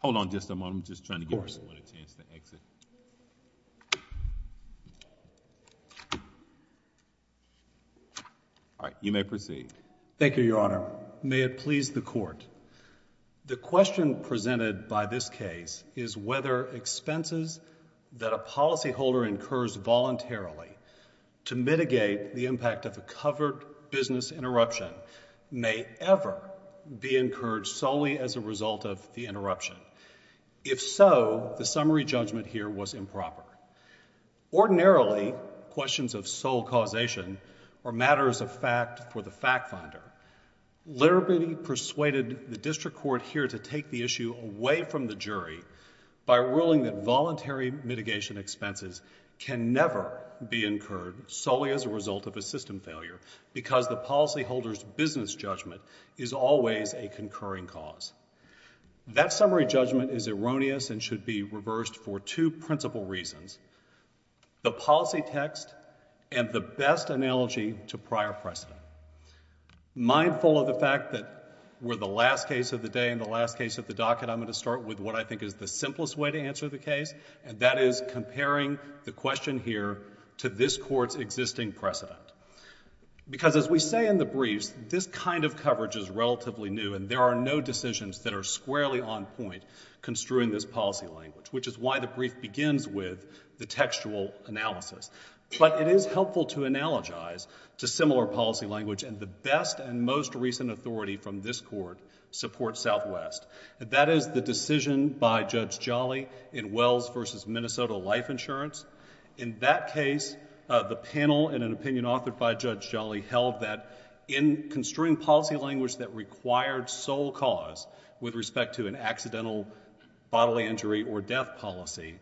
Hold on just a moment, I'm just trying to give everyone a chance to exit. Alright, you may proceed. Thank you, Your Honor. May it please the Court, the question presented by this case is whether expenses that a policyholder incurs voluntarily to mitigate the impact of a covered business interruption may ever be incurred solely as a result of the interruption. If so, the summary judgment here was improper. Ordinarily, questions of sole causation are matters of fact for the fact finder. Liberty persuaded the District Court here to take the issue away from the jury by ruling that voluntary mitigation expenses can never be incurred solely as a result of a system failure because the policyholder's business judgment is always a concurring cause. That summary judgment is erroneous and should be reversed for two principal reasons. The policy text and the best analogy to prior precedent. Mindful of the fact that we're the last case of the day and the last case of the docket, I'm going to start with what I think is the simplest way to answer the case, and that is comparing the question here to this Court's existing precedent. Because as we say in the briefs, this kind of coverage is relatively new and there are no decisions that are squarely on point construing this policy language, which is why the brief begins with the textual analysis. But it is helpful to analogize to similar policy language, and the best and most recent authority from this Court supports Southwest. That is the decision by Judge Jolly in Wells v. Minnesota Life Insurance. In that case, the panel in an opinion authored by Judge Jolly held that in construing policy language that required sole cause with respect to an accidental bodily injury or death policy,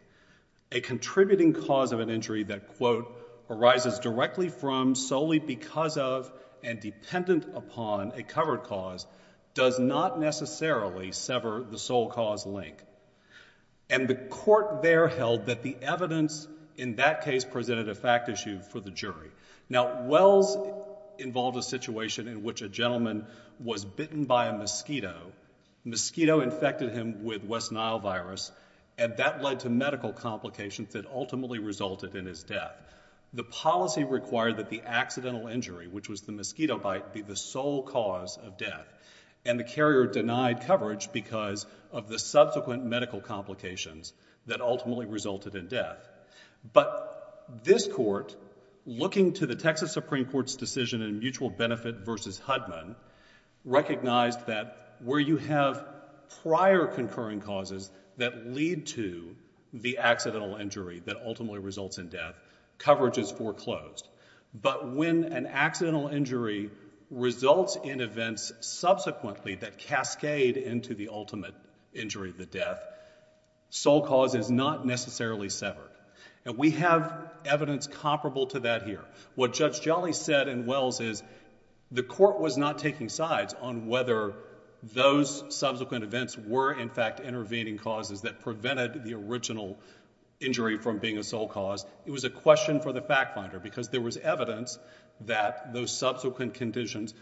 a contributing cause of an injury that, quote, arises directly from, solely because of, and dependent upon a covered cause does not necessarily sever the sole cause link. And the court there held that the evidence in that case presented a fact issue for the jury. Now, Wells involved a situation in which a gentleman was bitten by a mosquito. The mosquito infected him with West Nile virus, and that led to medical complications that ultimately resulted in his death. The policy required that the accidental injury, which was the mosquito bite, be the sole cause of death, and the carrier denied coverage because of the subsequent medical complications that ultimately resulted in death. But this court, looking to the Texas Supreme Court's decision in Mutual Benefit v. Hudman, recognized that where you have prior concurring causes that lead to the accidental injury that ultimately results in death, coverage is foreclosed. But when an accidental injury results in events subsequently that cascade into the ultimate injury, the death, sole cause is not necessarily severed. And we have evidence comparable to that here. What Judge Jolly said in Wells is the court was not taking sides on whether those subsequent events were, in fact, intervening causes that prevented the original injury from being a sole cause. It was a question for the fact finder because there was evidence that those subsequent conditions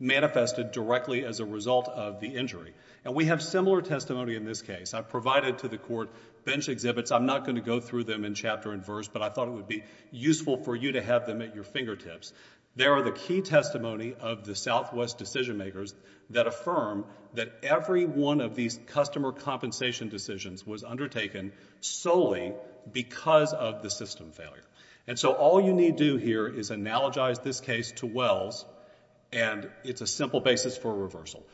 manifested directly as a result of the injury. And we have similar testimony in this case. I've provided to the court bench exhibits. I'm not going to go through them in chapter and verse, but I thought it would be useful for you to have them at your fingertips. There are the key testimony of the Southwest decision makers that affirm that every one of these customer compensation decisions was undertaken solely because of the system failure. And so all you need do here is analogize this case to Wells and it's a simple basis for reversal.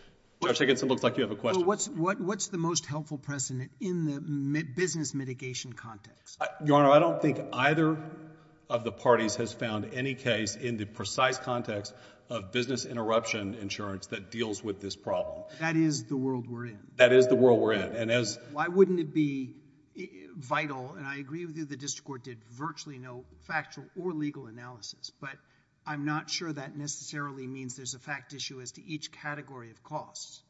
Judge Higginson, it looks like you have a question. What's the most helpful precedent in the business mitigation context? Your Honor, I don't think either of the parties has found any case in the precise context of business interruption insurance that deals with this problem. That is the world we're in. That is the world we're in. Why wouldn't it be vital, and I agree with you, the district court did virtually no factual or legal analysis, but I'm not sure that necessarily means there's a fact issue as to each category of costs.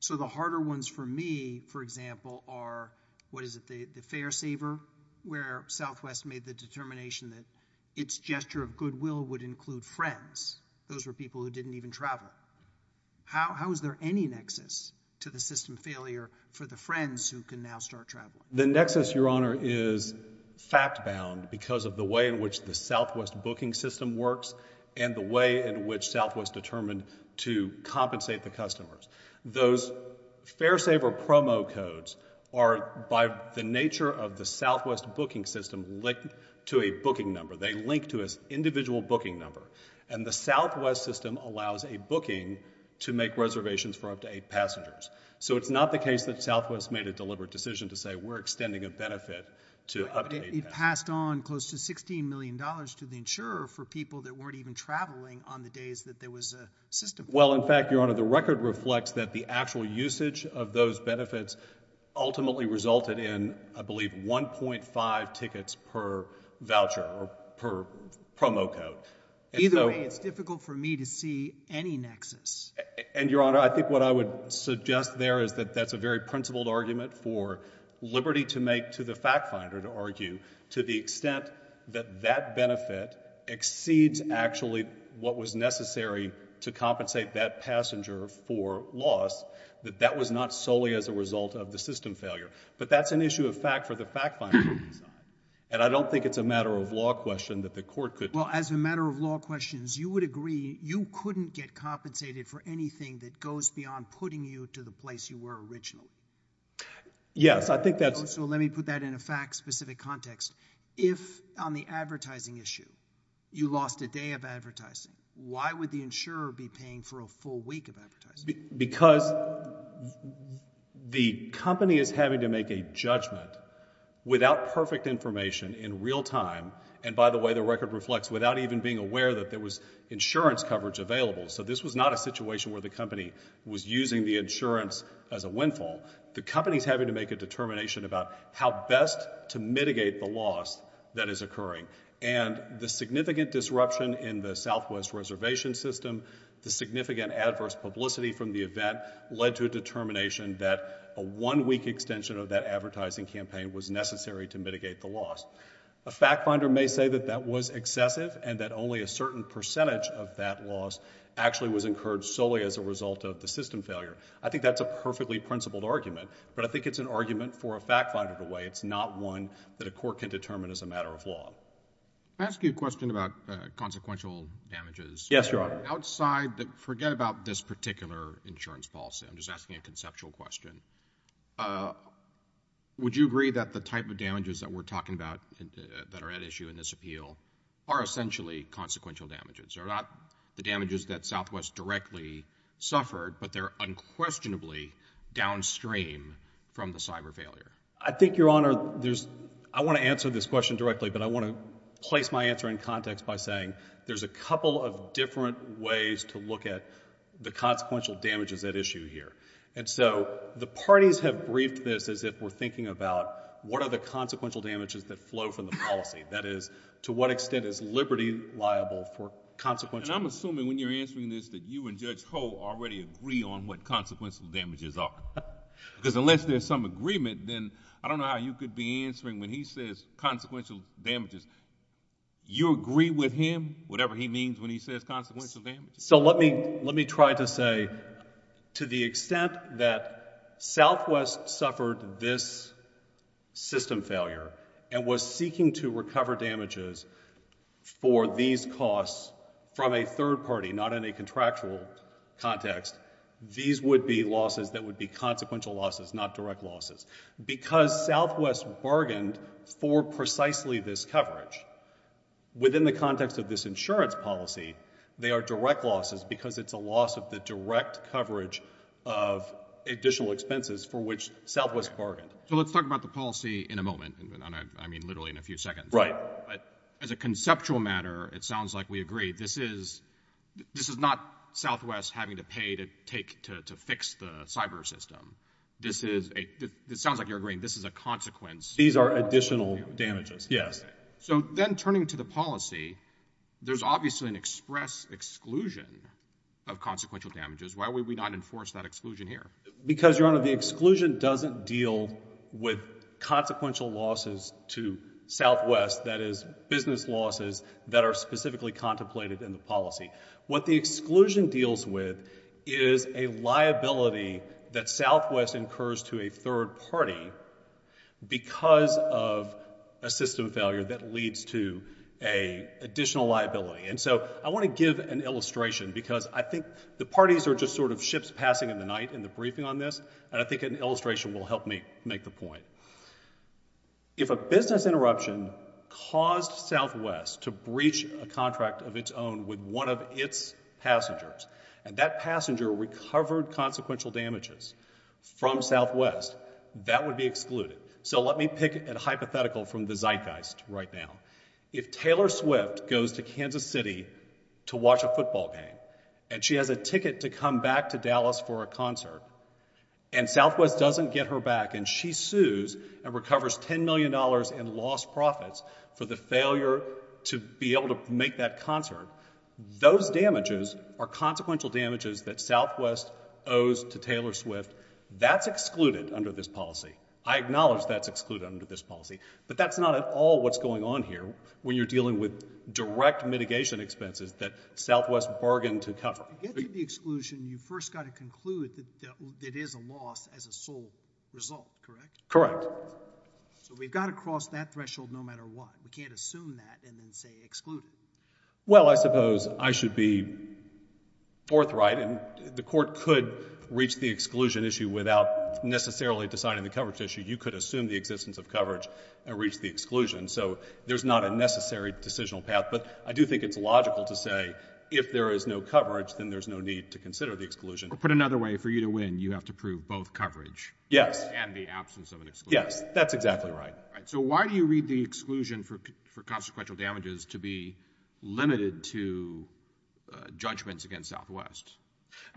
So the harder ones for me, for example, are, what is it, the fare saver, where Southwest made the determination that its gesture of goodwill would include friends. Those were people who didn't even travel. How is there any nexus to the system failure for the friends who can now start traveling? The nexus, Your Honor, is fact-bound because of the way in which the Southwest booking system works and the way in which Southwest determined to compensate the customers. Those fare saver promo codes are, by the nature of the Southwest booking system, linked to a booking number. They link to an individual booking number, and the Southwest system allows a booking to make reservations for up to eight passengers. So it's not the case that Southwest made a deliberate decision to say we're extending a benefit to up to eight passengers. It passed on close to $16 million to the insurer for people that weren't even traveling on the days that there was a system failure. Well, in fact, Your Honor, the record reflects that the actual usage of those benefits ultimately resulted in, I believe, 1.5 tickets per voucher or per promo code. Either way, it's difficult for me to see any nexus. And, Your Honor, I think what I would suggest there is that that's a very principled argument for liberty to make to the fact-finder to argue to the extent that that benefit exceeds actually what was necessary to compensate that passenger for loss, that that was not solely as a result of the system failure. But that's an issue of fact for the fact-finder to decide, and I don't think it's a matter of law question that the court could... Well, as a matter of law questions, you would agree that you couldn't get compensated for anything that goes beyond putting you to the place you were originally? Yes, I think that's... So let me put that in a fact-specific context. If, on the advertising issue, you lost a day of advertising, why would the insurer be paying for a full week of advertising? Because the company is having to make a judgment without perfect information in real time, and by the way, the record reflects, without even being aware that there was insurance coverage available, so this was not a situation where the company was using the insurance as a windfall. The company's having to make a determination about how best to mitigate the loss that is occurring, and the significant disruption in the Southwest reservation system, the significant adverse publicity from the event led to a determination that a one-week extension of that advertising campaign was necessary to mitigate the loss. A fact-finder may say that that was excessive and that only a certain percentage of that loss actually was encouraged solely as a result of the system failure. I think that's a perfectly principled argument, but I think it's an argument for a fact-finder to weigh. It's not one that a court can determine as a matter of law. Can I ask you a question about consequential damages? Yes, Your Honor. Outside... Forget about this particular insurance policy. I'm just asking a conceptual question. Would you agree that the type of damages that we're talking about that are at issue in this appeal are essentially consequential damages, are not the damages that Southwest directly suffered, but they're unquestionably downstream from the cyber failure? I think, Your Honor, there's... I want to answer this question directly, but I want to place my answer in context by saying there's a couple of different ways to look at the consequential damages at issue here. And so the parties have briefed this as if we're thinking about what are the consequential damages that flow from the policy, that is, to what extent is liberty liable for consequential... And I'm assuming when you're answering this that you and Judge Hoe already agree on what consequential damages are. Because unless there's some agreement, then I don't know how you could be answering when he says consequential damages. You agree with him, whatever he means when he says consequential damages? So let me try to say that to the extent that Southwest suffered this system failure and was seeking to recover damages for these costs from a third party, not in a contractual context, these would be losses that would be consequential losses, not direct losses. Because Southwest bargained for precisely this coverage. Within the context of this insurance policy, they are direct losses because it's a loss of the direct coverage of additional expenses for which Southwest bargained. So let's talk about the policy in a moment. I mean, literally in a few seconds. Right. But as a conceptual matter, it sounds like we agree. This is not Southwest having to pay to fix the cyber system. This is... It sounds like you're agreeing. This is a consequence... These are additional damages, yes. So then turning to the policy, there's obviously an express exclusion of consequential damages. Why would we not enforce that exclusion here? Because, Your Honor, the exclusion doesn't deal with consequential losses to Southwest, that is, business losses that are specifically contemplated in the policy. What the exclusion deals with is a liability that Southwest incurs to a third party because of a system failure that leads to an additional liability. And so I want to give an illustration because I think the parties are just sort of ships passing in the night in the briefing on this, and I think an illustration will help me make the point. If a business interruption caused Southwest to breach a contract of its own with one of its passengers and that passenger recovered consequential damages from Southwest, that would be excluded. So let me pick a hypothetical from the zeitgeist right now. If Taylor Swift goes to Kansas City to watch a football game and she has a ticket to come back to Dallas for a concert and Southwest doesn't get her back and she sues and recovers $10 million in lost profits for the failure to be able to make that concert, those damages are consequential damages that Southwest owes to Taylor Swift. That's excluded under this policy. I acknowledge that's excluded under this policy, but that's not at all what's going on here when you're dealing with direct mitigation expenses that Southwest bargained to cover. To get to the exclusion, you first got to conclude that it is a loss as a sole result, correct? Correct. So we've got to cross that threshold no matter what. We can't assume that and then say exclude. Well, I suppose I should be forthright, and the court could reach the exclusion issue without necessarily deciding the coverage issue. You could assume the existence of coverage and reach the exclusion, so there's not a necessary decisional path. But I do think it's logical to say if there is no coverage, then there's no need to consider the exclusion. Or put another way, for you to win, you have to prove both coverage and the absence of an exclusion. Yes, that's exactly right. So why do you read the exclusion for consequential damages to be limited to judgments against Southwest?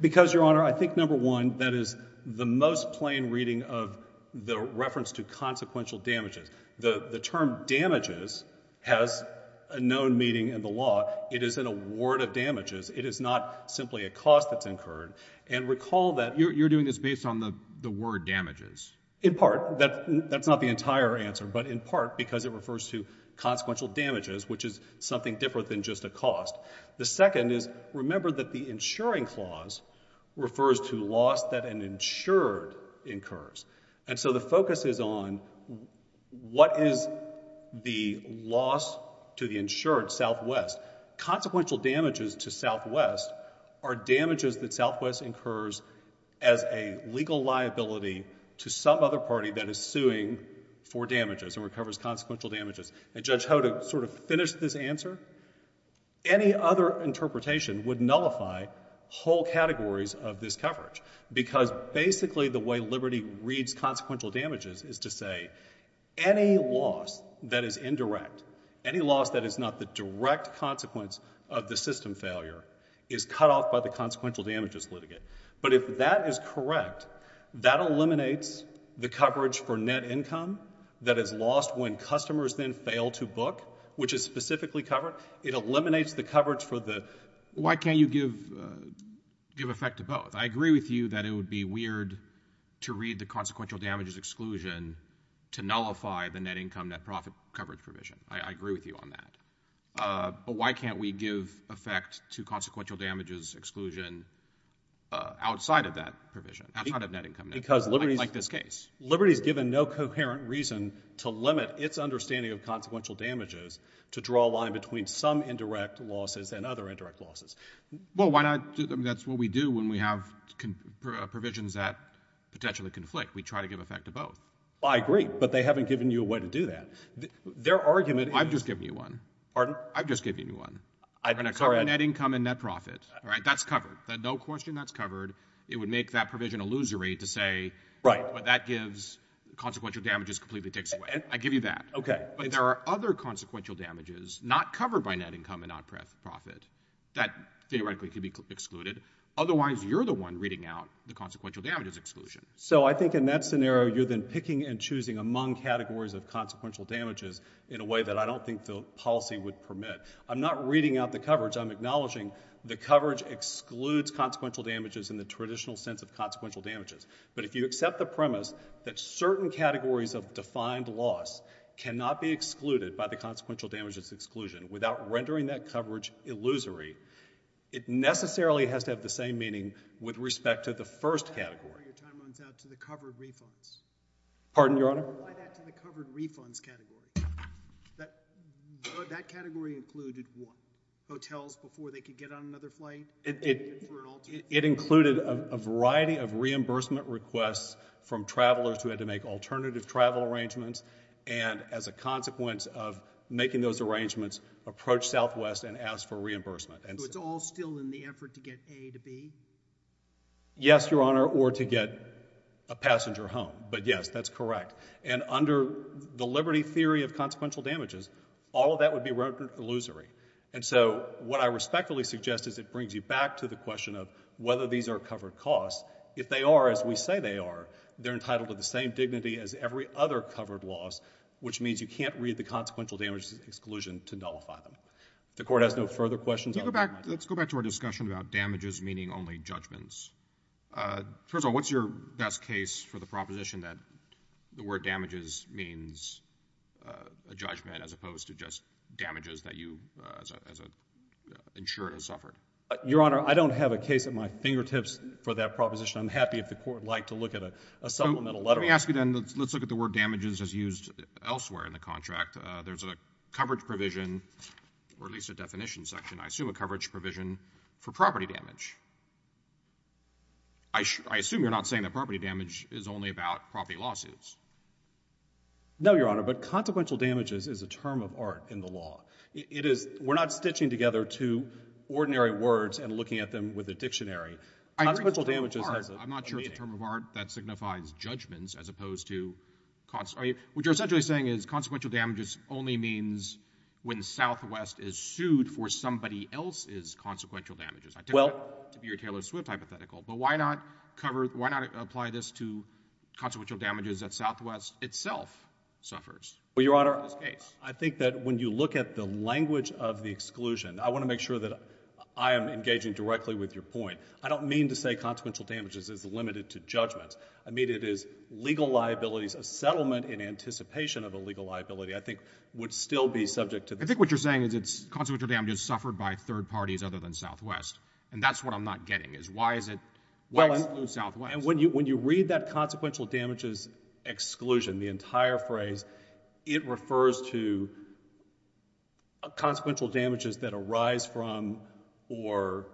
Because, Your Honor, I think, number one, that is the most plain reading of the reference to consequential damages. The term damages has a known meaning in the law. It is an award of damages. It is not simply a cost that's incurred. And recall that you're doing this based on the word damages. In part. That's not the entire answer, but in part because it refers to consequential damages, which is something different than just a cost. The second is, remember that the insuring clause refers to loss that an insured incurs. And so the focus is on what is the loss to the insured Southwest. Consequential damages to Southwest are damages that Southwest incurs as a legal liability to some other party that is suing for damages and recovers consequential damages. And Judge Hoda sort of finished this answer. Any other interpretation would nullify whole categories of this coverage, because basically the way Liberty reads consequential damages is to say any loss that is indirect, any loss that is not the direct consequence of the system failure, is cut off by the consequential damages litigate. But if that is correct, that eliminates the coverage for net income that is lost when customers then fail to book, which is specifically covered. It eliminates the coverage for the... Why can't you give effect to both? I agree with you that it would be weird to read the consequential damages exclusion to nullify the net income, net profit coverage provision. I agree with you on that. But why can't we give effect to consequential damages exclusion outside of that provision, outside of net income, like this case? Liberty's given no coherent reason to limit its understanding of consequential damages to draw a line between some indirect losses and other indirect losses. Well, why not... I mean, that's what we do when we have provisions that potentially conflict. We try to give effect to both. I agree, but they haven't given you a way to do that. Their argument is... I've just given you one. Pardon? I've just given you one. I'm going to cover net income and net profit. All right? That's covered. No question that's covered. It would make that provision illusory to say... Right. ...well, that gives... consequential damages completely takes away. I give you that. Okay. But there are other consequential damages not covered by net income and non-profit that theoretically could be excluded. Otherwise, you're the one reading out the consequential damages exclusion. So I think in that scenario, you're then picking and choosing among categories of consequential damages in a way that I don't think the policy would permit. I'm not reading out the coverage. I'm acknowledging the coverage excludes consequential damages in the traditional sense of consequential damages. But if you accept the premise that certain categories of defined loss cannot be excluded by the consequential damages exclusion without rendering that coverage illusory, it necessarily has to have the same meaning with respect to the first category. Your time runs out to the covered refunds. Pardon, Your Honor? Why that to the covered refunds category? That category included what? Hotels before they could get on another flight? It included a variety of reimbursement requests from travelers who had to make alternative travel arrangements, and as a consequence of making those arrangements, approach Southwest and ask for reimbursement. So it's all still in the effort to get A to B? Yes, Your Honor, or to get a passenger home. But yes, that's correct. And under the liberty theory of consequential damages, all of that would be rendered illusory. And so what I respectfully suggest is it brings you back to the question of whether these are covered costs. If they are, as we say they are, they're entitled to the same dignity as every other covered loss, which means you can't read the consequential damages exclusion to nullify them. If the Court has no further questions... Let's go back to our discussion about damages meaning only judgments. First of all, what's your best case for the proposition that the word damages means a judgment as opposed to just damages that you, as an insurer, have suffered? Your Honor, I don't have a case at my fingertips for that proposition. I'm happy if the Court would like to look at a supplemental letter on it. Let me ask you then, let's look at the word damages as used elsewhere in the contract. There's a coverage provision, or at least a definition section, I assume, a coverage provision for property damage. I assume you're not saying that property damage is only about property lawsuits. No, Your Honor, but consequential damages is a term of art in the law. We're not stitching together two ordinary words and looking at them with a dictionary. I'm not sure it's a term of art that signifies judgments as opposed to... What you're essentially saying is consequential damages only means when Southwest is sued for somebody else's consequential damages. I take that to be your Taylor Swift hypothetical, but why not apply this to consequential damages that Southwest itself suffers? Well, Your Honor, I think that when you look at the language of the exclusion, I want to make sure that I am engaging directly with your point. I don't mean to say consequential damages is limited to judgments. I mean it is legal liabilities, a settlement in anticipation of a legal liability, I think, would still be subject to... I think what you're saying is consequential damages suffered by third parties other than Southwest, and that's what I'm not getting, is why is it... Well, when you read that consequential damages exclusion, the entire phrase, it refers to consequential damages that arise from or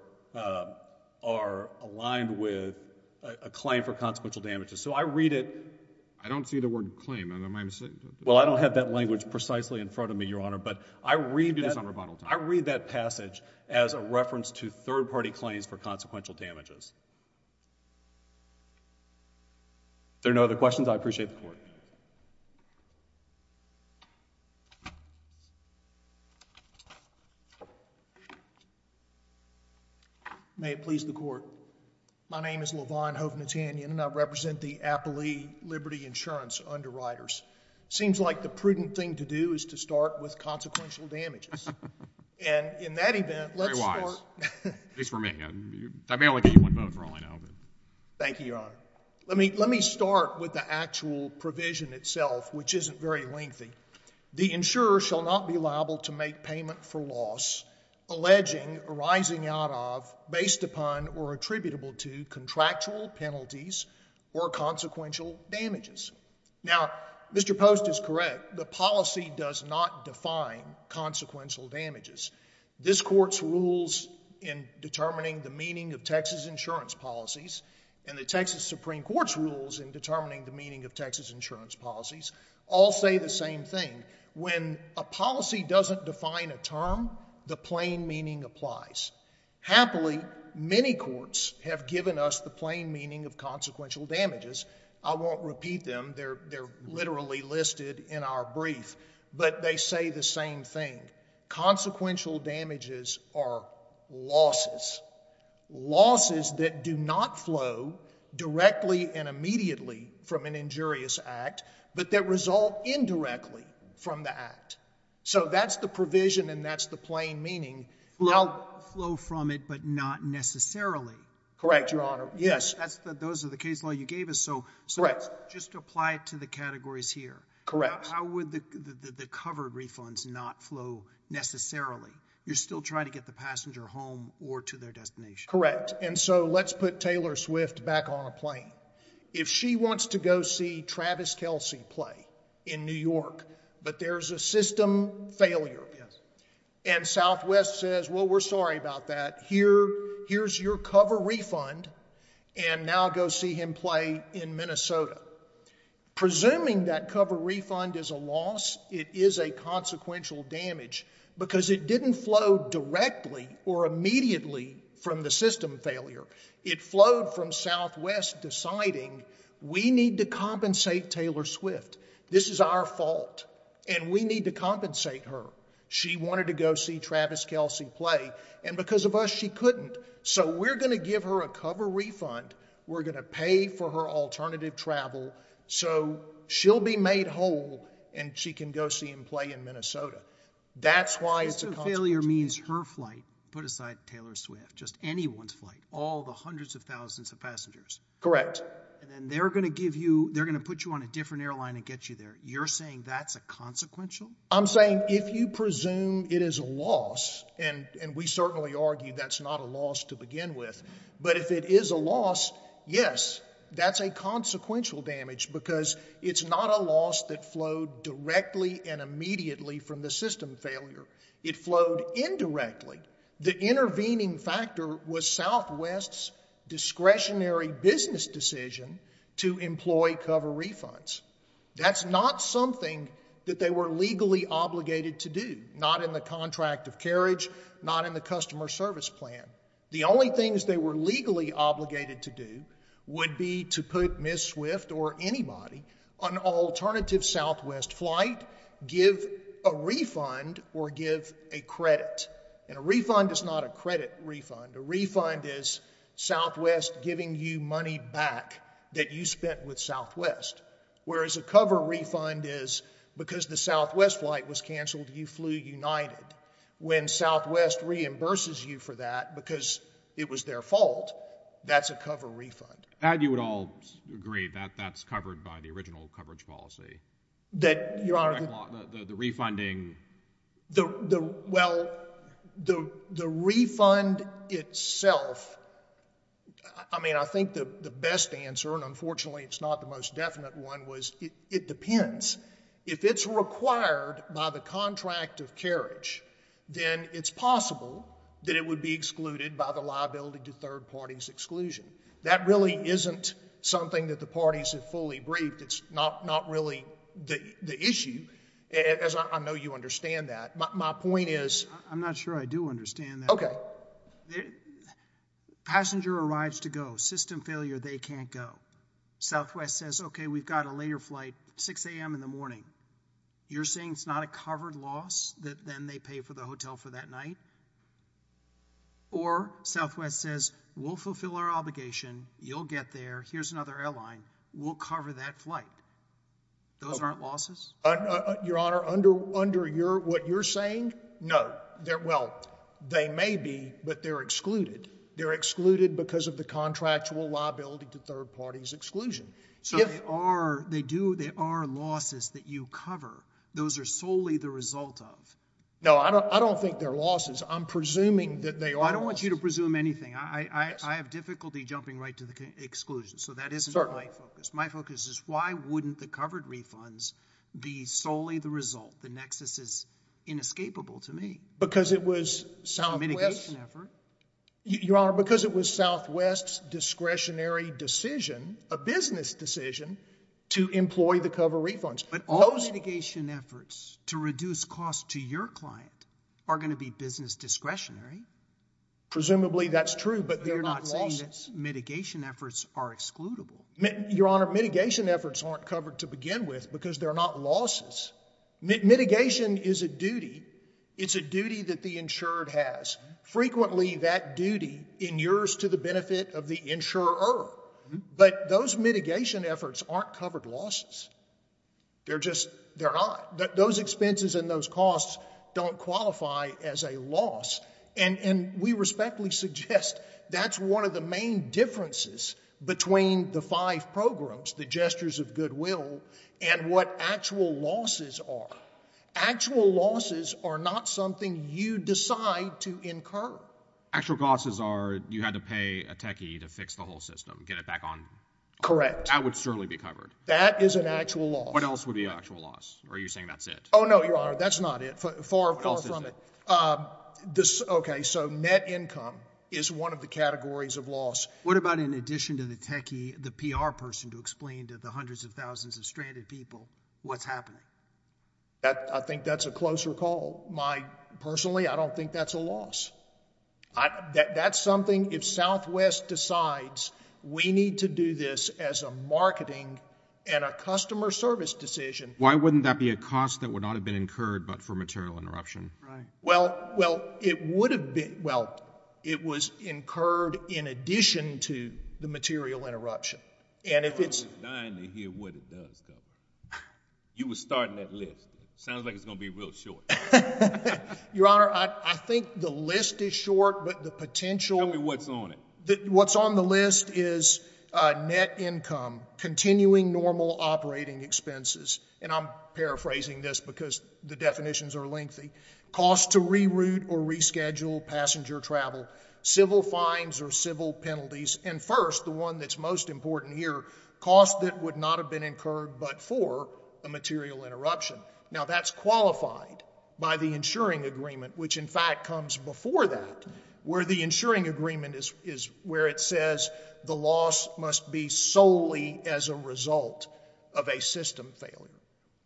are aligned with a claim for consequential damages. So I read it... I don't see the word claim. Well, I don't have that language precisely in front of me, Your Honor, but I read that passage as a reference to third-party claims for consequential damages. If there are no other questions, I appreciate the court. May it please the court. My name is LaVon Hovnatanyan, and I represent the Appalee Liberty Insurance underwriters. Seems like the prudent thing to do is to start with consequential damages. And in that event, let's start... Very wise. At least for me. I may only get you one vote for all I know. Thank you, Your Honor. Let me start with the actual provision itself, which isn't very lengthy. The insurer shall not be liable to make payment for loss alleging, arising out of, based upon, or attributable to contractual penalties or consequential damages. Now, Mr. Post is correct. The policy does not define consequential damages. This Court's rules in determining the meaning of Texas insurance policies and the Texas Supreme Court's rules in determining the meaning of Texas insurance policies all say the same thing. When a policy doesn't define a term, the plain meaning applies. Happily, many courts have given us the plain meaning of consequential damages. I won't repeat them. They're literally listed in our brief. But they say the same thing. Consequential damages are losses. Losses that do not flow directly and immediately from an injurious act, but that result indirectly from the act. So that's the provision and that's the plain meaning. Flow from it, but not necessarily. Correct, Your Honor. Yes. Those are the case law you gave us. So just apply it to the categories here. Correct. How would the covered refunds not flow necessarily? You're still trying to get the passenger home or to their destination. Correct. And so let's put Taylor Swift back on a plane. If she wants to go see Travis Kelsey play in New York, but there's a system failure, and Southwest says, well, we're sorry about that. Here's your cover refund and now go see him play in Minnesota. Presuming that cover refund is a loss, it is a consequential damage because it didn't flow directly or immediately from the system failure. It flowed from Southwest deciding we need to compensate Taylor Swift. This is our fault and we need to compensate her. She wanted to go see Travis Kelsey play and because of us she couldn't. So we're going to give her a cover refund. We're going to pay for her alternative travel so she'll be made whole and she can go see him play in Minnesota. That's why it's a consequential damage. System failure means her flight, put aside Taylor Swift, just anyone's flight, all the hundreds of thousands of passengers. Correct. And then they're going to give you, they're going to put you on a different airline and get you there. You're saying that's a consequential? I'm saying if you presume it is a loss, and we certainly argue that's not a loss to begin with, but if it is a loss, yes, that's a consequential damage because it's not a loss that flowed directly and immediately from the system failure. It flowed indirectly. The intervening factor was Southwest's discretionary business decision to employ cover refunds. That's not something that they were legally obligated to do, not in the contract of carriage, not in the customer service plan. The only things they were legally obligated to do would be to put Ms. Swift or anybody on an alternative Southwest flight, give a refund, or give a credit. And a refund is not a credit refund. A refund is Southwest giving you money back that you spent with Southwest, whereas a cover refund is because the Southwest flight was canceled, you flew United. When Southwest reimburses you for that because it was their fault, that's a cover refund. And you would all agree that that's covered by the original coverage policy? Your Honor... The refunding... Well, the refund itself... I mean, I think the best answer, and unfortunately it's not the most definite one, was it depends. If it's required by the contract of carriage, then it's possible that it would be excluded by the liability to third parties' exclusion. That really isn't something that the parties have fully briefed. It's not really the issue, as I know you understand that. My point is... I'm not sure I do understand that. Okay. Passenger arrives to go. System failure, they can't go. Southwest says, okay, we've got a later flight, 6 a.m. in the morning. You're saying it's not a covered loss that then they pay for the hotel for that night? Or Southwest says, we'll fulfill our obligation, you'll get there, here's another airline, we'll cover that flight. Those aren't losses? Your Honor, under what you're saying, no. Well, they may be, but they're excluded. They're excluded because of the contractual liability to third parties' exclusion. So they are losses that you cover. Those are solely the result of. No, I don't think they're losses. I'm presuming that they are losses. I don't want you to presume anything. I have difficulty jumping right to the exclusion. So that isn't my focus. My focus is why wouldn't the covered refunds be solely the result? The nexus is inescapable to me. Because it was Southwest. It's a mitigation effort. Your Honor, because it was Southwest's discretionary decision, a business decision, to employ the cover refunds. But all mitigation efforts to reduce costs to your client are going to be business discretionary. Presumably that's true, but they're not losses. But you're not saying that mitigation efforts are excludable. Your Honor, mitigation efforts aren't covered to begin with because they're not losses. Mitigation is a duty. It's a duty that the insured has. Frequently that duty inures to the benefit of the insurer. But those mitigation efforts aren't covered losses. They're just not. Those expenses and those costs don't qualify as a loss. And we respectfully suggest that's one of the main differences between the five programs, the gestures of goodwill, and what actual losses are. Actual losses are not something you decide to incur. Actual losses are you had to pay a techie to fix the whole system, get it back on. Correct. That would certainly be covered. That is an actual loss. What else would be an actual loss? Or are you saying that's it? Oh, no, Your Honor, that's not it. Far from it. What else is it? OK, so net income is one of the categories of loss. What about in addition to the techie, the PR person to explain to the hundreds of thousands of stranded people what's happening? I think that's a closer call. Personally, I don't think that's a loss. That's something if Southwest decides we need to do this as a marketing and a customer service decision. Why wouldn't that be a cost that would not have been incurred but for material interruption? Right. Well, it would have been. Well, it was incurred in addition to the material interruption. I'm dying to hear what it does, Governor. You were starting that list. Sounds like it's going to be real short. Your Honor, I think the list is short, but the potential. Tell me what's on it. What's on the list is net income, continuing normal operating expenses. And I'm paraphrasing this because the definitions are lengthy. Cost to reroute or reschedule passenger travel, civil fines or civil penalties. And first, the one that's most important here, cost that would not have been incurred but for a material interruption. Now, that's qualified by the insuring agreement, which in fact comes before that, where the insuring agreement is where it says the loss must be solely as a result of a system failure.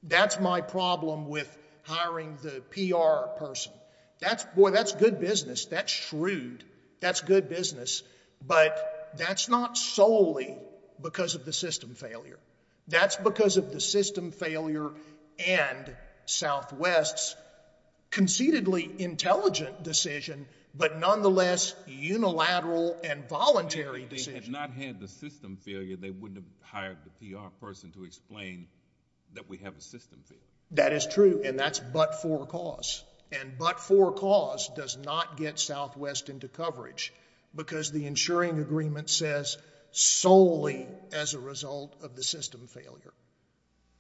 That's my problem with hiring the PR person. Boy, that's good business. That's shrewd. That's good business. But that's not solely because of the system failure. That's because of the system failure and Southwest's conceitedly intelligent decision but nonetheless unilateral and voluntary decision. If they had not had the system failure, they wouldn't have hired the PR person to explain that we have a system failure. That is true, and that's but for cause. And but for cause does not get Southwest into coverage because the insuring agreement says solely as a result of the system failure.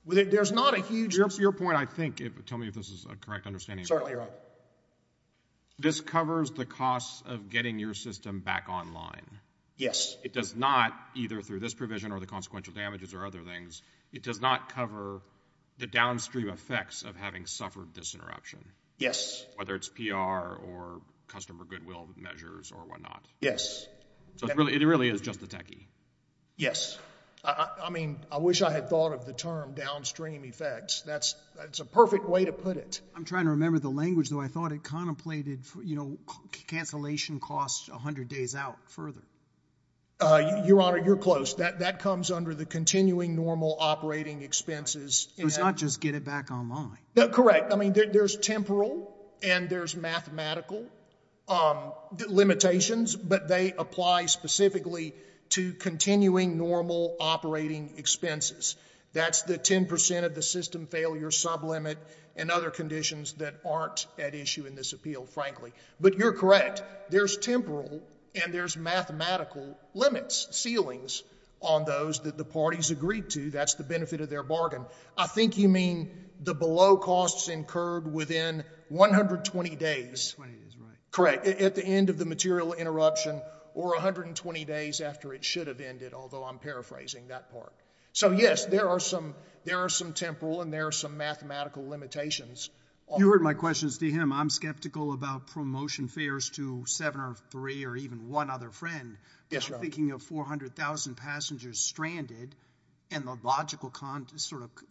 There's not a huge... Your point, I think, tell me if this is a correct understanding. Certainly, Your Honor. This covers the cost of getting your system back online. Yes. It does not, either through this provision or the consequential damages or other things, it does not cover the downstream effects of having suffered this interruption. Yes. Whether it's PR or customer goodwill measures or whatnot. Yes. So it really is just the techie. Yes. I mean, I wish I had thought of the term downstream effects. That's a perfect way to put it. I'm trying to remember the language, though. I thought it contemplated, you know, cancellation costs 100 days out further. Your Honor, you're close. That comes under the continuing normal operating expenses. It's not just get it back online. Correct. I mean, there's temporal and there's mathematical limitations, but they apply specifically to continuing normal operating expenses. That's the 10% of the system failure sublimit and other conditions that aren't at issue in this appeal, frankly. But you're correct. There's temporal and there's mathematical limits, ceilings on those that the parties agreed to. That's the benefit of their bargain. I think you mean the below costs incurred within 120 days. 120 days, right. Correct. At the end of the material interruption or 120 days after it should have ended, although I'm paraphrasing that part. So, yes, there are some temporal and there are some mathematical limitations. You heard my questions to him. I'm skeptical about promotion fares to seven or three or even one other friend. Yes, Your Honor. I'm thinking of 400,000 passengers stranded and the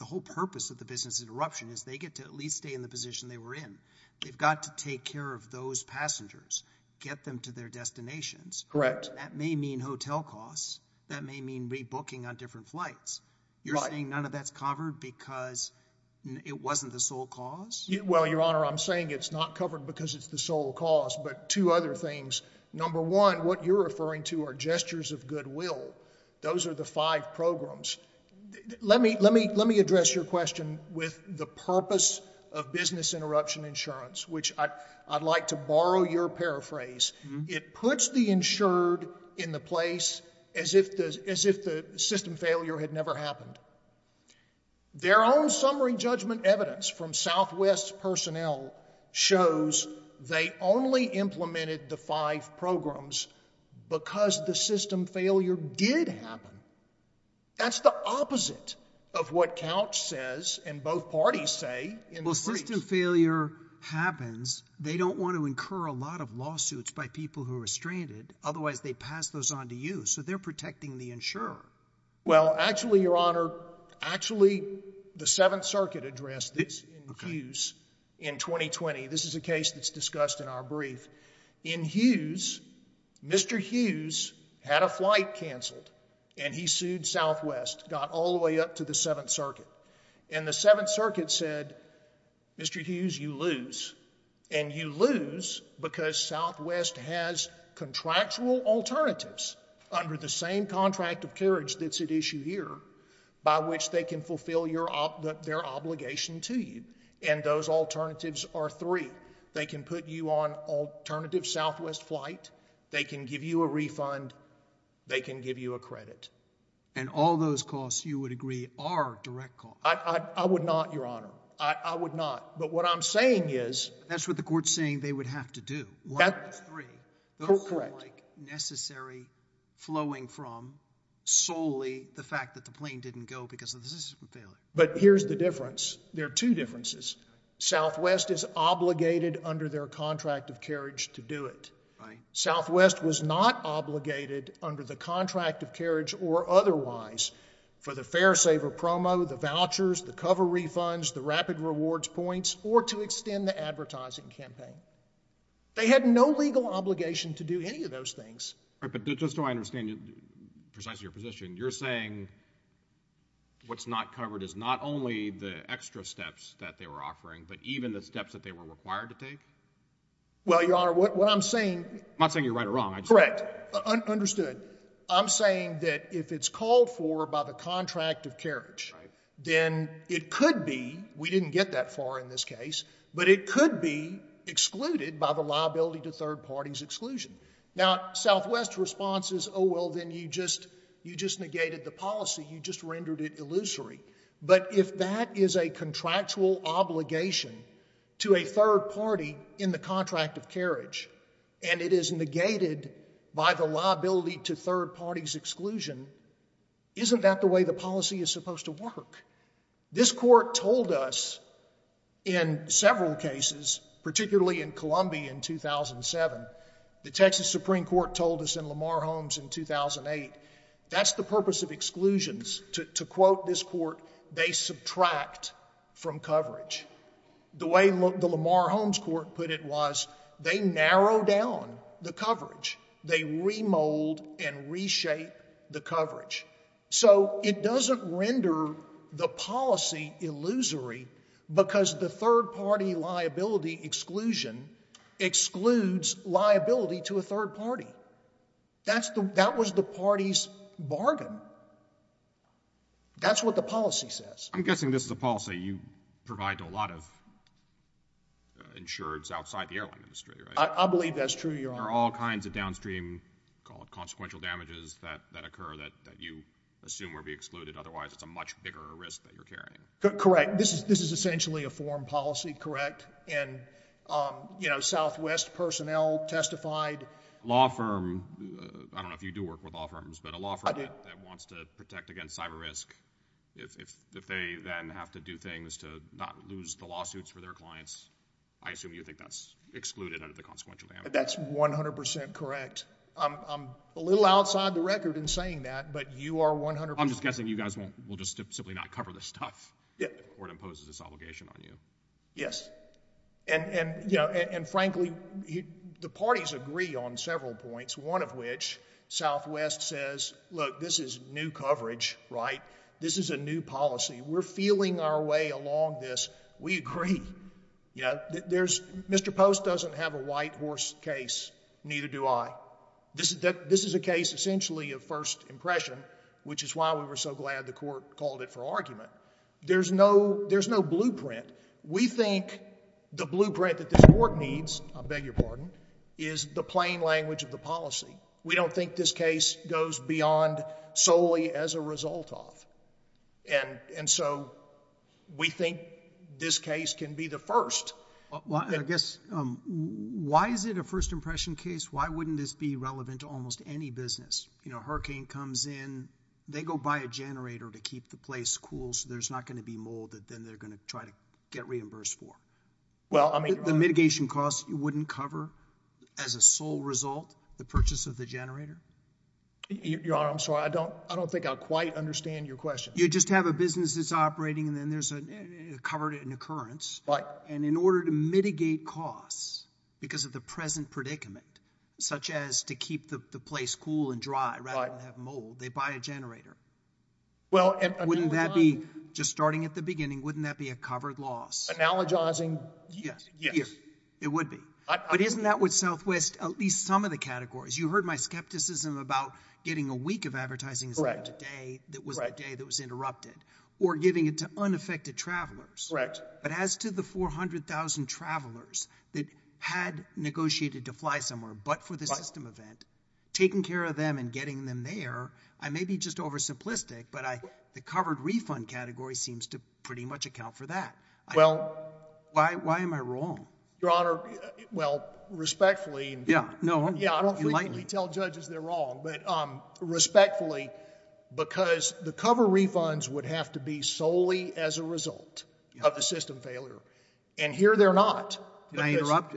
whole purpose of the business interruption is they get to at least stay in the position they were in. They've got to take care of those passengers, get them to their destinations. Correct. That may mean hotel costs. That may mean rebooking on different flights. You're saying none of that's covered because it wasn't the sole cause? Well, Your Honor, I'm saying it's not covered because it's the sole cause, but two other things. Number one, what you're referring to are gestures of goodwill. Those are the five programs. Let me address your question with the purpose of business interruption insurance, which I'd like to borrow your paraphrase. It puts the insured in the place as if the system failure had never happened. Their own summary judgment evidence from Southwest personnel shows they only implemented the five programs because the system failure did happen. That's the opposite of what Couch says and both parties say in the breach. Well, system failure happens. They don't want to incur a lot of lawsuits by people who are stranded. Otherwise, they pass those on to you, so they're protecting the insurer. Well, actually, Your Honor, the Seventh Circuit addressed this in Hughes in 2020. This is a case that's discussed in our brief. In Hughes, Mr. Hughes had a flight canceled, and he sued Southwest, got all the way up to the Seventh Circuit, and the Seventh Circuit said, Mr. Hughes, you lose, and you lose because Southwest has contractual alternatives under the same contract of carriage that's at issue here by which they can fulfill their obligation to you. And those alternatives are three. They can put you on alternative Southwest flight. They can give you a refund. They can give you a credit. And all those costs, you would agree, are direct costs. I would not, Your Honor. I would not. But what I'm saying is... That's what the court's saying they would have to do. One of those three. Correct. ...necessary flowing from solely the fact that the plane didn't go because of the system failure. But here's the difference. There are two differences. Southwest is obligated under their contract of carriage to do it. Southwest was not obligated under the contract of carriage or otherwise for the fare saver promo, the vouchers, the cover refunds, the rapid rewards points, or to extend the advertising campaign. They had no legal obligation to do any of those things. But just so I understand precisely your position, you're saying what's not covered is not only the extra steps that they were offering but even the steps that they were required to take? Well, Your Honor, what I'm saying... I'm not saying you're right or wrong. Correct. Understood. I'm saying that if it's called for by the contract of carriage, then it could be, we didn't get that far in this case, but it could be excluded by the liability to third parties' exclusion. Now, Southwest's response is, oh, well, then you just negated the policy, you just rendered it illusory. But if that is a contractual obligation to a third party in the contract of carriage and it is negated by the liability to third parties' exclusion, isn't that the way the policy is supposed to work? This court told us in several cases, particularly in Columbia in 2007, the Texas Supreme Court told us in Lamar Holmes in 2008, that's the purpose of exclusions. To quote this court, they subtract from coverage. The way the Lamar Holmes court put it was, they narrow down the coverage. They remold and reshape the coverage. So it doesn't render the policy illusory because the third party liability exclusion excludes liability to a third party. That was the party's bargain. That's what the policy says. I'm guessing this is a policy you provide to a lot of insureds outside the airline industry, right? I believe that's true, Your Honor. There are all kinds of downstream, call it consequential damages, that occur that you assume will be excluded. Otherwise, it's a much bigger risk that you're carrying. Correct. This is essentially a foreign policy, correct? Southwest personnel testified. Law firm, I don't know if you do work with law firms, but a law firm that wants to protect against cyber risk, if they then have to do things to not lose the lawsuits for their clients, I assume you think that's excluded under the consequential damages. That's 100% correct. I'm a little outside the record in saying that, but you are 100% I'm just guessing you guys will just simply not cover this stuff before it imposes this obligation on you. Yes. And frankly, the parties agree on several points, one of which Southwest says, look, this is new coverage, right? This is a new policy. We're feeling our way along this. We agree. Mr. Post doesn't have a white horse case. Neither do I. This is a case essentially of first impression, which is why we were so glad the court called it for argument. There's no blueprint. We think the blueprint that this court needs, I beg your pardon, is the plain language of the policy. We don't think this case goes beyond solely as a result of. And so we think this case can be the first. I guess, why is it a first impression case? Why wouldn't this be relevant to almost any business? Hurricane comes in. They go buy a generator to keep the place cool, so there's not going to be mold that then they're going to try to get reimbursed for. The mitigation costs you wouldn't cover as a sole result the purchase of the generator? Your Honor, I'm sorry. I don't think I quite understand your question. You just have a business that's operating and then there's a covered occurrence. Right. And in order to mitigate costs because of the present predicament, such as to keep the place cool and dry rather than have mold, they buy a generator. Wouldn't that be, just starting at the beginning, wouldn't that be a covered loss? Analogizing, yes. It would be. But isn't that what Southwest, at least some of the categories, you heard my skepticism about getting a week of advertising instead of today that was that day that was interrupted or giving it to unaffected travelers. Correct. But as to the 400,000 travelers that had negotiated to fly somewhere but for the system event, taking care of them and getting them there, I may be just over simplistic, but the covered refund category seems to pretty much account for that. Well. Why am I wrong? Your Honor, well, respectfully. Yeah. No, I'm enlightening. Yeah, I don't frequently tell judges they're wrong. But respectfully, because the cover refunds would have to be solely as a result of the system failure. And here they're not. Can I interrupt?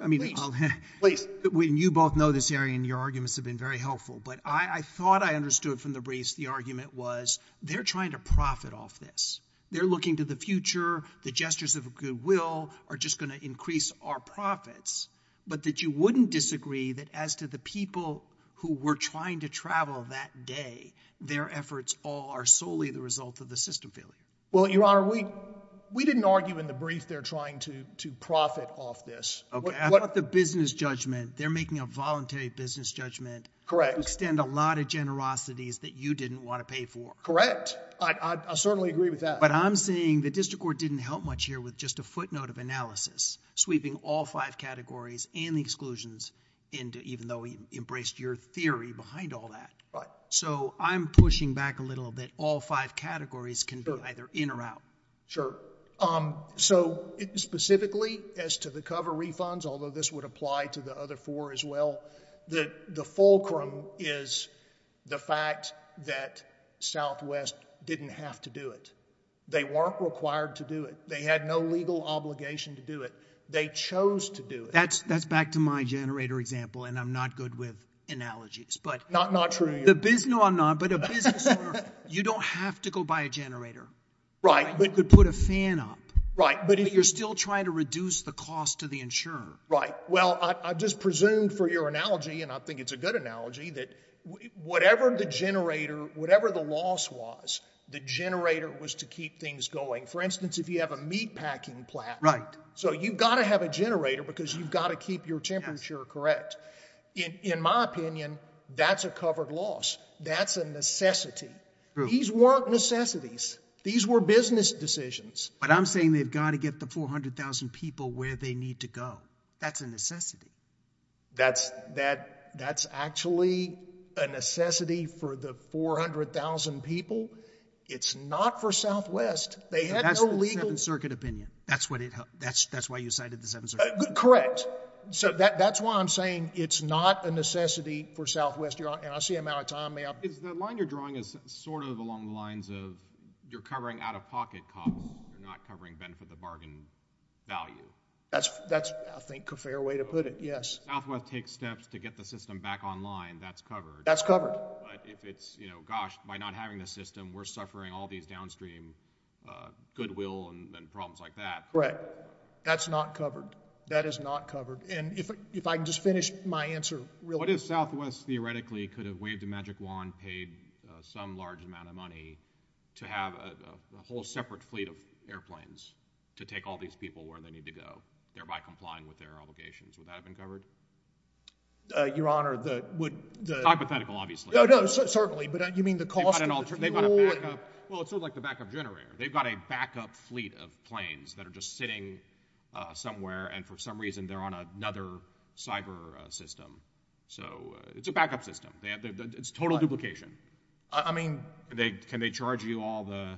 Please. When you both know this area and your arguments have been very helpful, but I thought I understood from the briefs the argument was they're trying to profit off this. They're looking to the future. The gestures of goodwill are just going to increase our profits. But that you wouldn't disagree that as to the people who were trying to travel that day, their efforts all are solely the result of the system failure. Well, Your Honor, we didn't argue in the brief they're trying to profit off this. OK. I thought the business judgment, they're making a voluntary business judgment. Correct. Extend a lot of generosities that you didn't want to pay for. Correct. I certainly agree with that. But I'm saying the district court didn't help much here with just a footnote of analysis, sweeping all five categories and the exclusions into even though we embraced your theory behind all that. Right. So I'm pushing back a little bit. All five categories can be either in or out. Sure. So specifically as to the cover refunds, although this would apply to the other four as well, the fulcrum is the fact that Southwest didn't have to do it. They weren't required to do it. They had no legal obligation to do it. They chose to do it. That's back to my generator example. And I'm not good with analogies. Not true. No, I'm not. But a business owner, you don't have to go buy a generator. Right. You could put a fan up. Right. But you're still trying to reduce the cost to the insurer. Right. Well, I just presumed for your analogy, and I think it's a good analogy, that whatever the generator, whatever the loss was, the generator was to keep things going. For instance, if you have a meat packing plant. Right. So you've got to have a generator because you've got to keep your temperature correct. In my opinion, that's a covered loss. That's a necessity. These weren't necessities. These were business decisions. But I'm saying they've got to get the 400,000 people where they need to go. That's a necessity. That's actually a necessity for the 400,000 people. It's not for Southwest. That's the Seventh Circuit opinion. That's why you cited the Seventh Circuit. Correct. So that's why I'm saying it's not a necessity for Southwest. And I see him now. Tom, may I? The line you're drawing is sort of along the lines of you're covering out-of-pocket costs. You're not covering benefit of the bargain value. That's, I think, a fair way to put it. Yes. Southwest takes steps to get the system back online. That's covered. That's covered. But if it's, gosh, by not having the system, we're suffering all these downstream goodwill and problems like that. Correct. That's not covered. That is not covered. And if I can just finish my answer real quick. What if Southwest, theoretically, could have waved a magic wand, paid some large amount of money, to have a whole separate fleet of airplanes to take all these people where they need to go, thereby complying with their obligations? Would that have been covered? Your Honor, the would the- Hypothetical, obviously. No, no, certainly. But you mean the cost- Well, it's sort of like the backup generator. They've got a backup fleet of planes that are just sitting somewhere. And for some reason, they're on another cyber system. So it's a backup system. It's total duplication. I mean- Can they charge you all the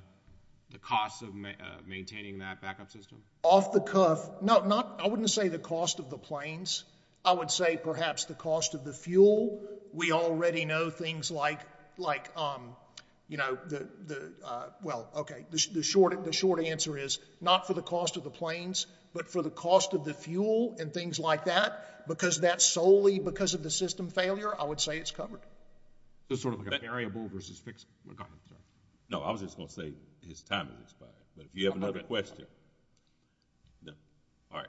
costs of maintaining that backup system? Off the cuff, no. I wouldn't say the cost of the planes. I would say, perhaps, the cost of the fuel. We already know things like, well, OK. The short answer is, not for the cost of the planes, but for the cost of the fuel and things like that. Because that's solely because of the system failure, I would say it's covered. It's sort of like a variable versus fixed. No, I was just going to say his timing is fine. But if you have another question- No. All right.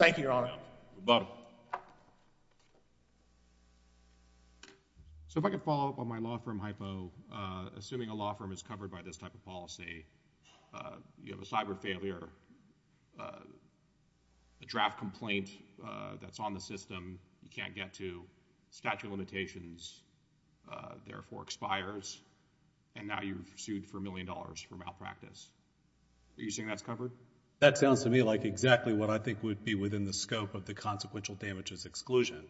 Thank you, Your Honor. Rebuttal. So if I could follow up on my law firm hypo. Assuming a law firm is covered by this type of policy, you have a cyber failure, a draft complaint that's on the system you can't get to, statute of limitations, therefore expires, and now you're sued for a million dollars for malpractice. Do you think that's covered? That sounds to me like exactly what I think would be within the scope of the consequential damages exclusion.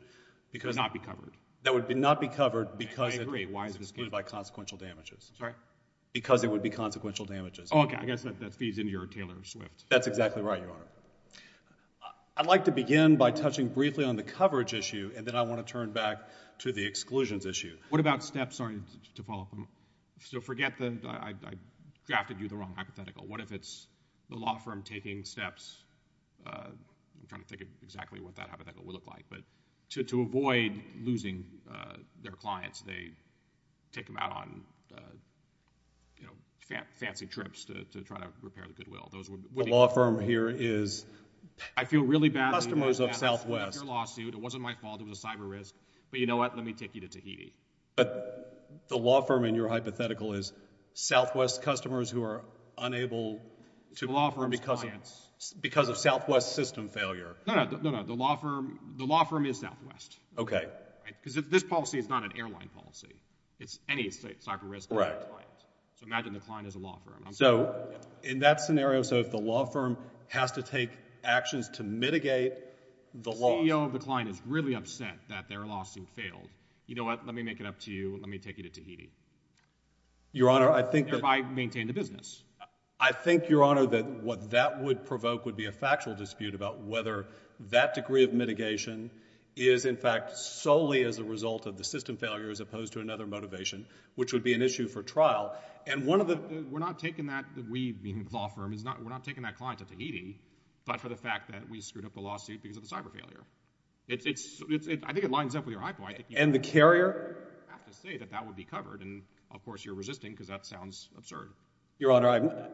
That would not be covered? That would not be covered because it would be consequential damages. Sorry? Because it would be consequential damages. Oh, okay. I guess that feeds into your Taylor Swift. That's exactly right, Your Honor. I'd like to begin by touching briefly on the coverage issue, and then I want to turn back to the exclusions issue. What about steps? Sorry to follow up. So forget that I drafted you the wrong hypothetical. What if it's the law firm taking steps? I'm trying to think of exactly what that hypothetical would look like. But to avoid losing their clients, they take them out on fancy trips to try to repair the Goodwill. The law firm here is customers of Southwest. I feel really badly about your lawsuit. It wasn't my fault. It was a cyber risk. But you know what? Let me take you to Tahiti. But the law firm in your hypothetical is Southwest customers who are unable to perform because of Southwest system failure. No, no. The law firm is Southwest. Okay. Because this policy is not an airline policy. It's any cyber risk for a client. So imagine the client is a law firm. So in that scenario, so if the law firm has to take actions to mitigate the loss— The CEO of the client is really upset that their lawsuit failed. You know what? Let me make it up to you. Let me take you to Tahiti. Your Honor, I think that— Thereby maintain the business. I think, Your Honor, that what that would provoke would be a factual dispute about whether that degree of mitigation is, in fact, solely as a result of the system failure as opposed to another motivation, which would be an issue for trial. And one of the— We're not taking that—we, the law firm, we're not taking that client to Tahiti but for the fact that we screwed up the lawsuit because of the cyber failure. I think it lines up with your high point. And the carrier? I have to say that that would be covered. And, of course, you're resisting because that sounds absurd. Your Honor,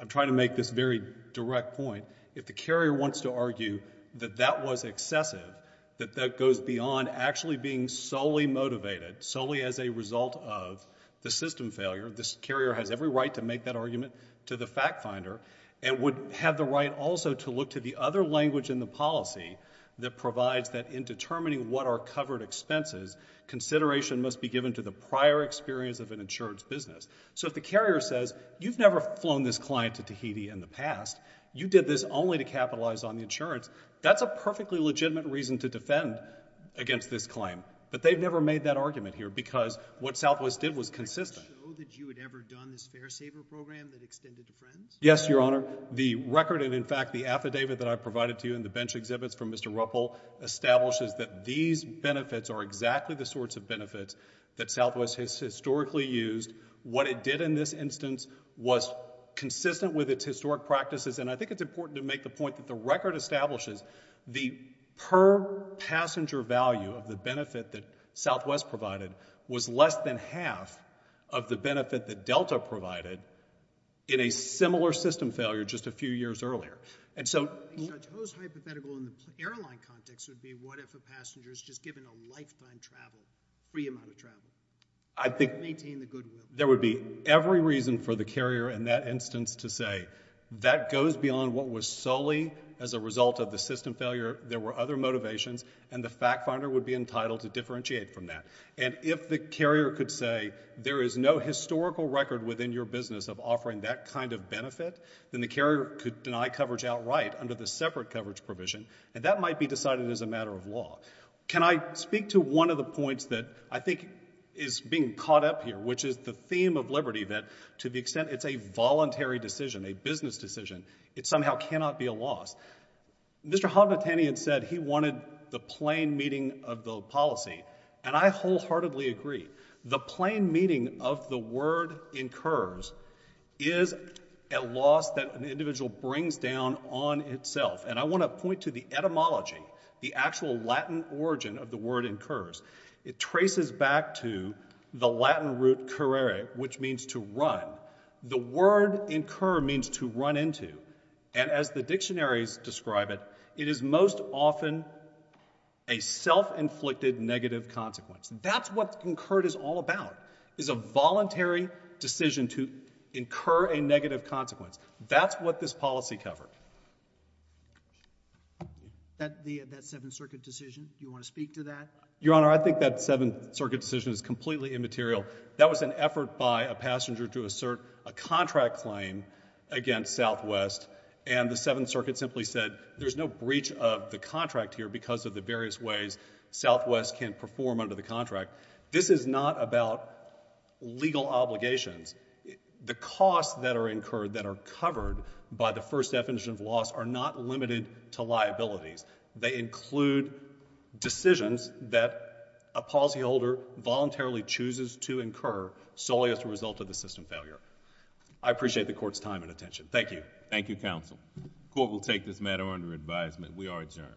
I'm trying to make this very direct point. If the carrier wants to argue that that was excessive, that that goes beyond actually being solely motivated, solely as a result of the system failure, this carrier has every right to make that argument to the fact finder and would have the right also to look to the other language in the policy that provides that in determining what are covered expenses, consideration must be given to the prior experience of an insurance business. So if the carrier says, you've never flown this client to Tahiti in the past, you did this only to capitalize on the insurance, that's a perfectly legitimate reason to defend against this claim. But they've never made that argument here because what Southwest did was consistent. Can you show that you had ever done this fare saver program that extended to friends? Yes, Your Honor. The record and, in fact, the affidavit that I provided to you in the bench exhibits from Mr. Ruppel establishes that these benefits are exactly the sorts of benefits that Southwest has historically used what it did in this instance was consistent with its historic practices and I think it's important to make the point that the record establishes the per passenger value of the benefit that Southwest provided was less than half of the benefit that Delta provided in a similar system failure just a few years earlier. And so... I think Chateau's hypothetical in the airline context would be what if a passenger is just given a lifetime travel, free amount of travel, I think there would be every reason for the carrier in that instance to say that goes beyond what was solely as a result of the system failure. There were other motivations and the fact finder would be entitled to differentiate from that. And if the carrier could say there is no historical record within your business of offering that kind of benefit, then the carrier could deny coverage outright under the separate coverage provision and that might be decided as a matter of law. Can I speak to one of the points that I think is being caught up here which is the theme of liberty that to the extent it's a voluntary decision, a business decision, it somehow cannot be a loss. Mr. Hodnotanian said he wanted the plain meaning of the policy and I wholeheartedly agree. The plain meaning of the word incurs is a loss that an individual brings down on itself and I want to point to the etymology, the actual Latin origin of the word incurs. It traces back to the Latin root carere which means to run. The word incur means to run into and as the dictionaries describe it, it is most often a self-inflicted negative consequence. That's what incurred is all about is a voluntary decision to incur a negative consequence. That's what this policy covered. That Seventh Circuit decision, do you want to speak to that? Your Honor, I think that Seventh Circuit decision is completely immaterial. That was an effort by a passenger to assert a contract claim against Southwest and the Seventh Circuit simply said there's no breach of the contract here because of the various ways Southwest can perform under the contract. This is not about legal obligations. The costs that are incurred that are covered by the First Definition of Loss are not limited to liabilities. They include decisions that a policyholder voluntarily chooses to incur solely as a result of the system failure. I appreciate the Court's time and attention. Thank you. Thank you, Counsel. The Court will take this matter under advisement. We are adjourned.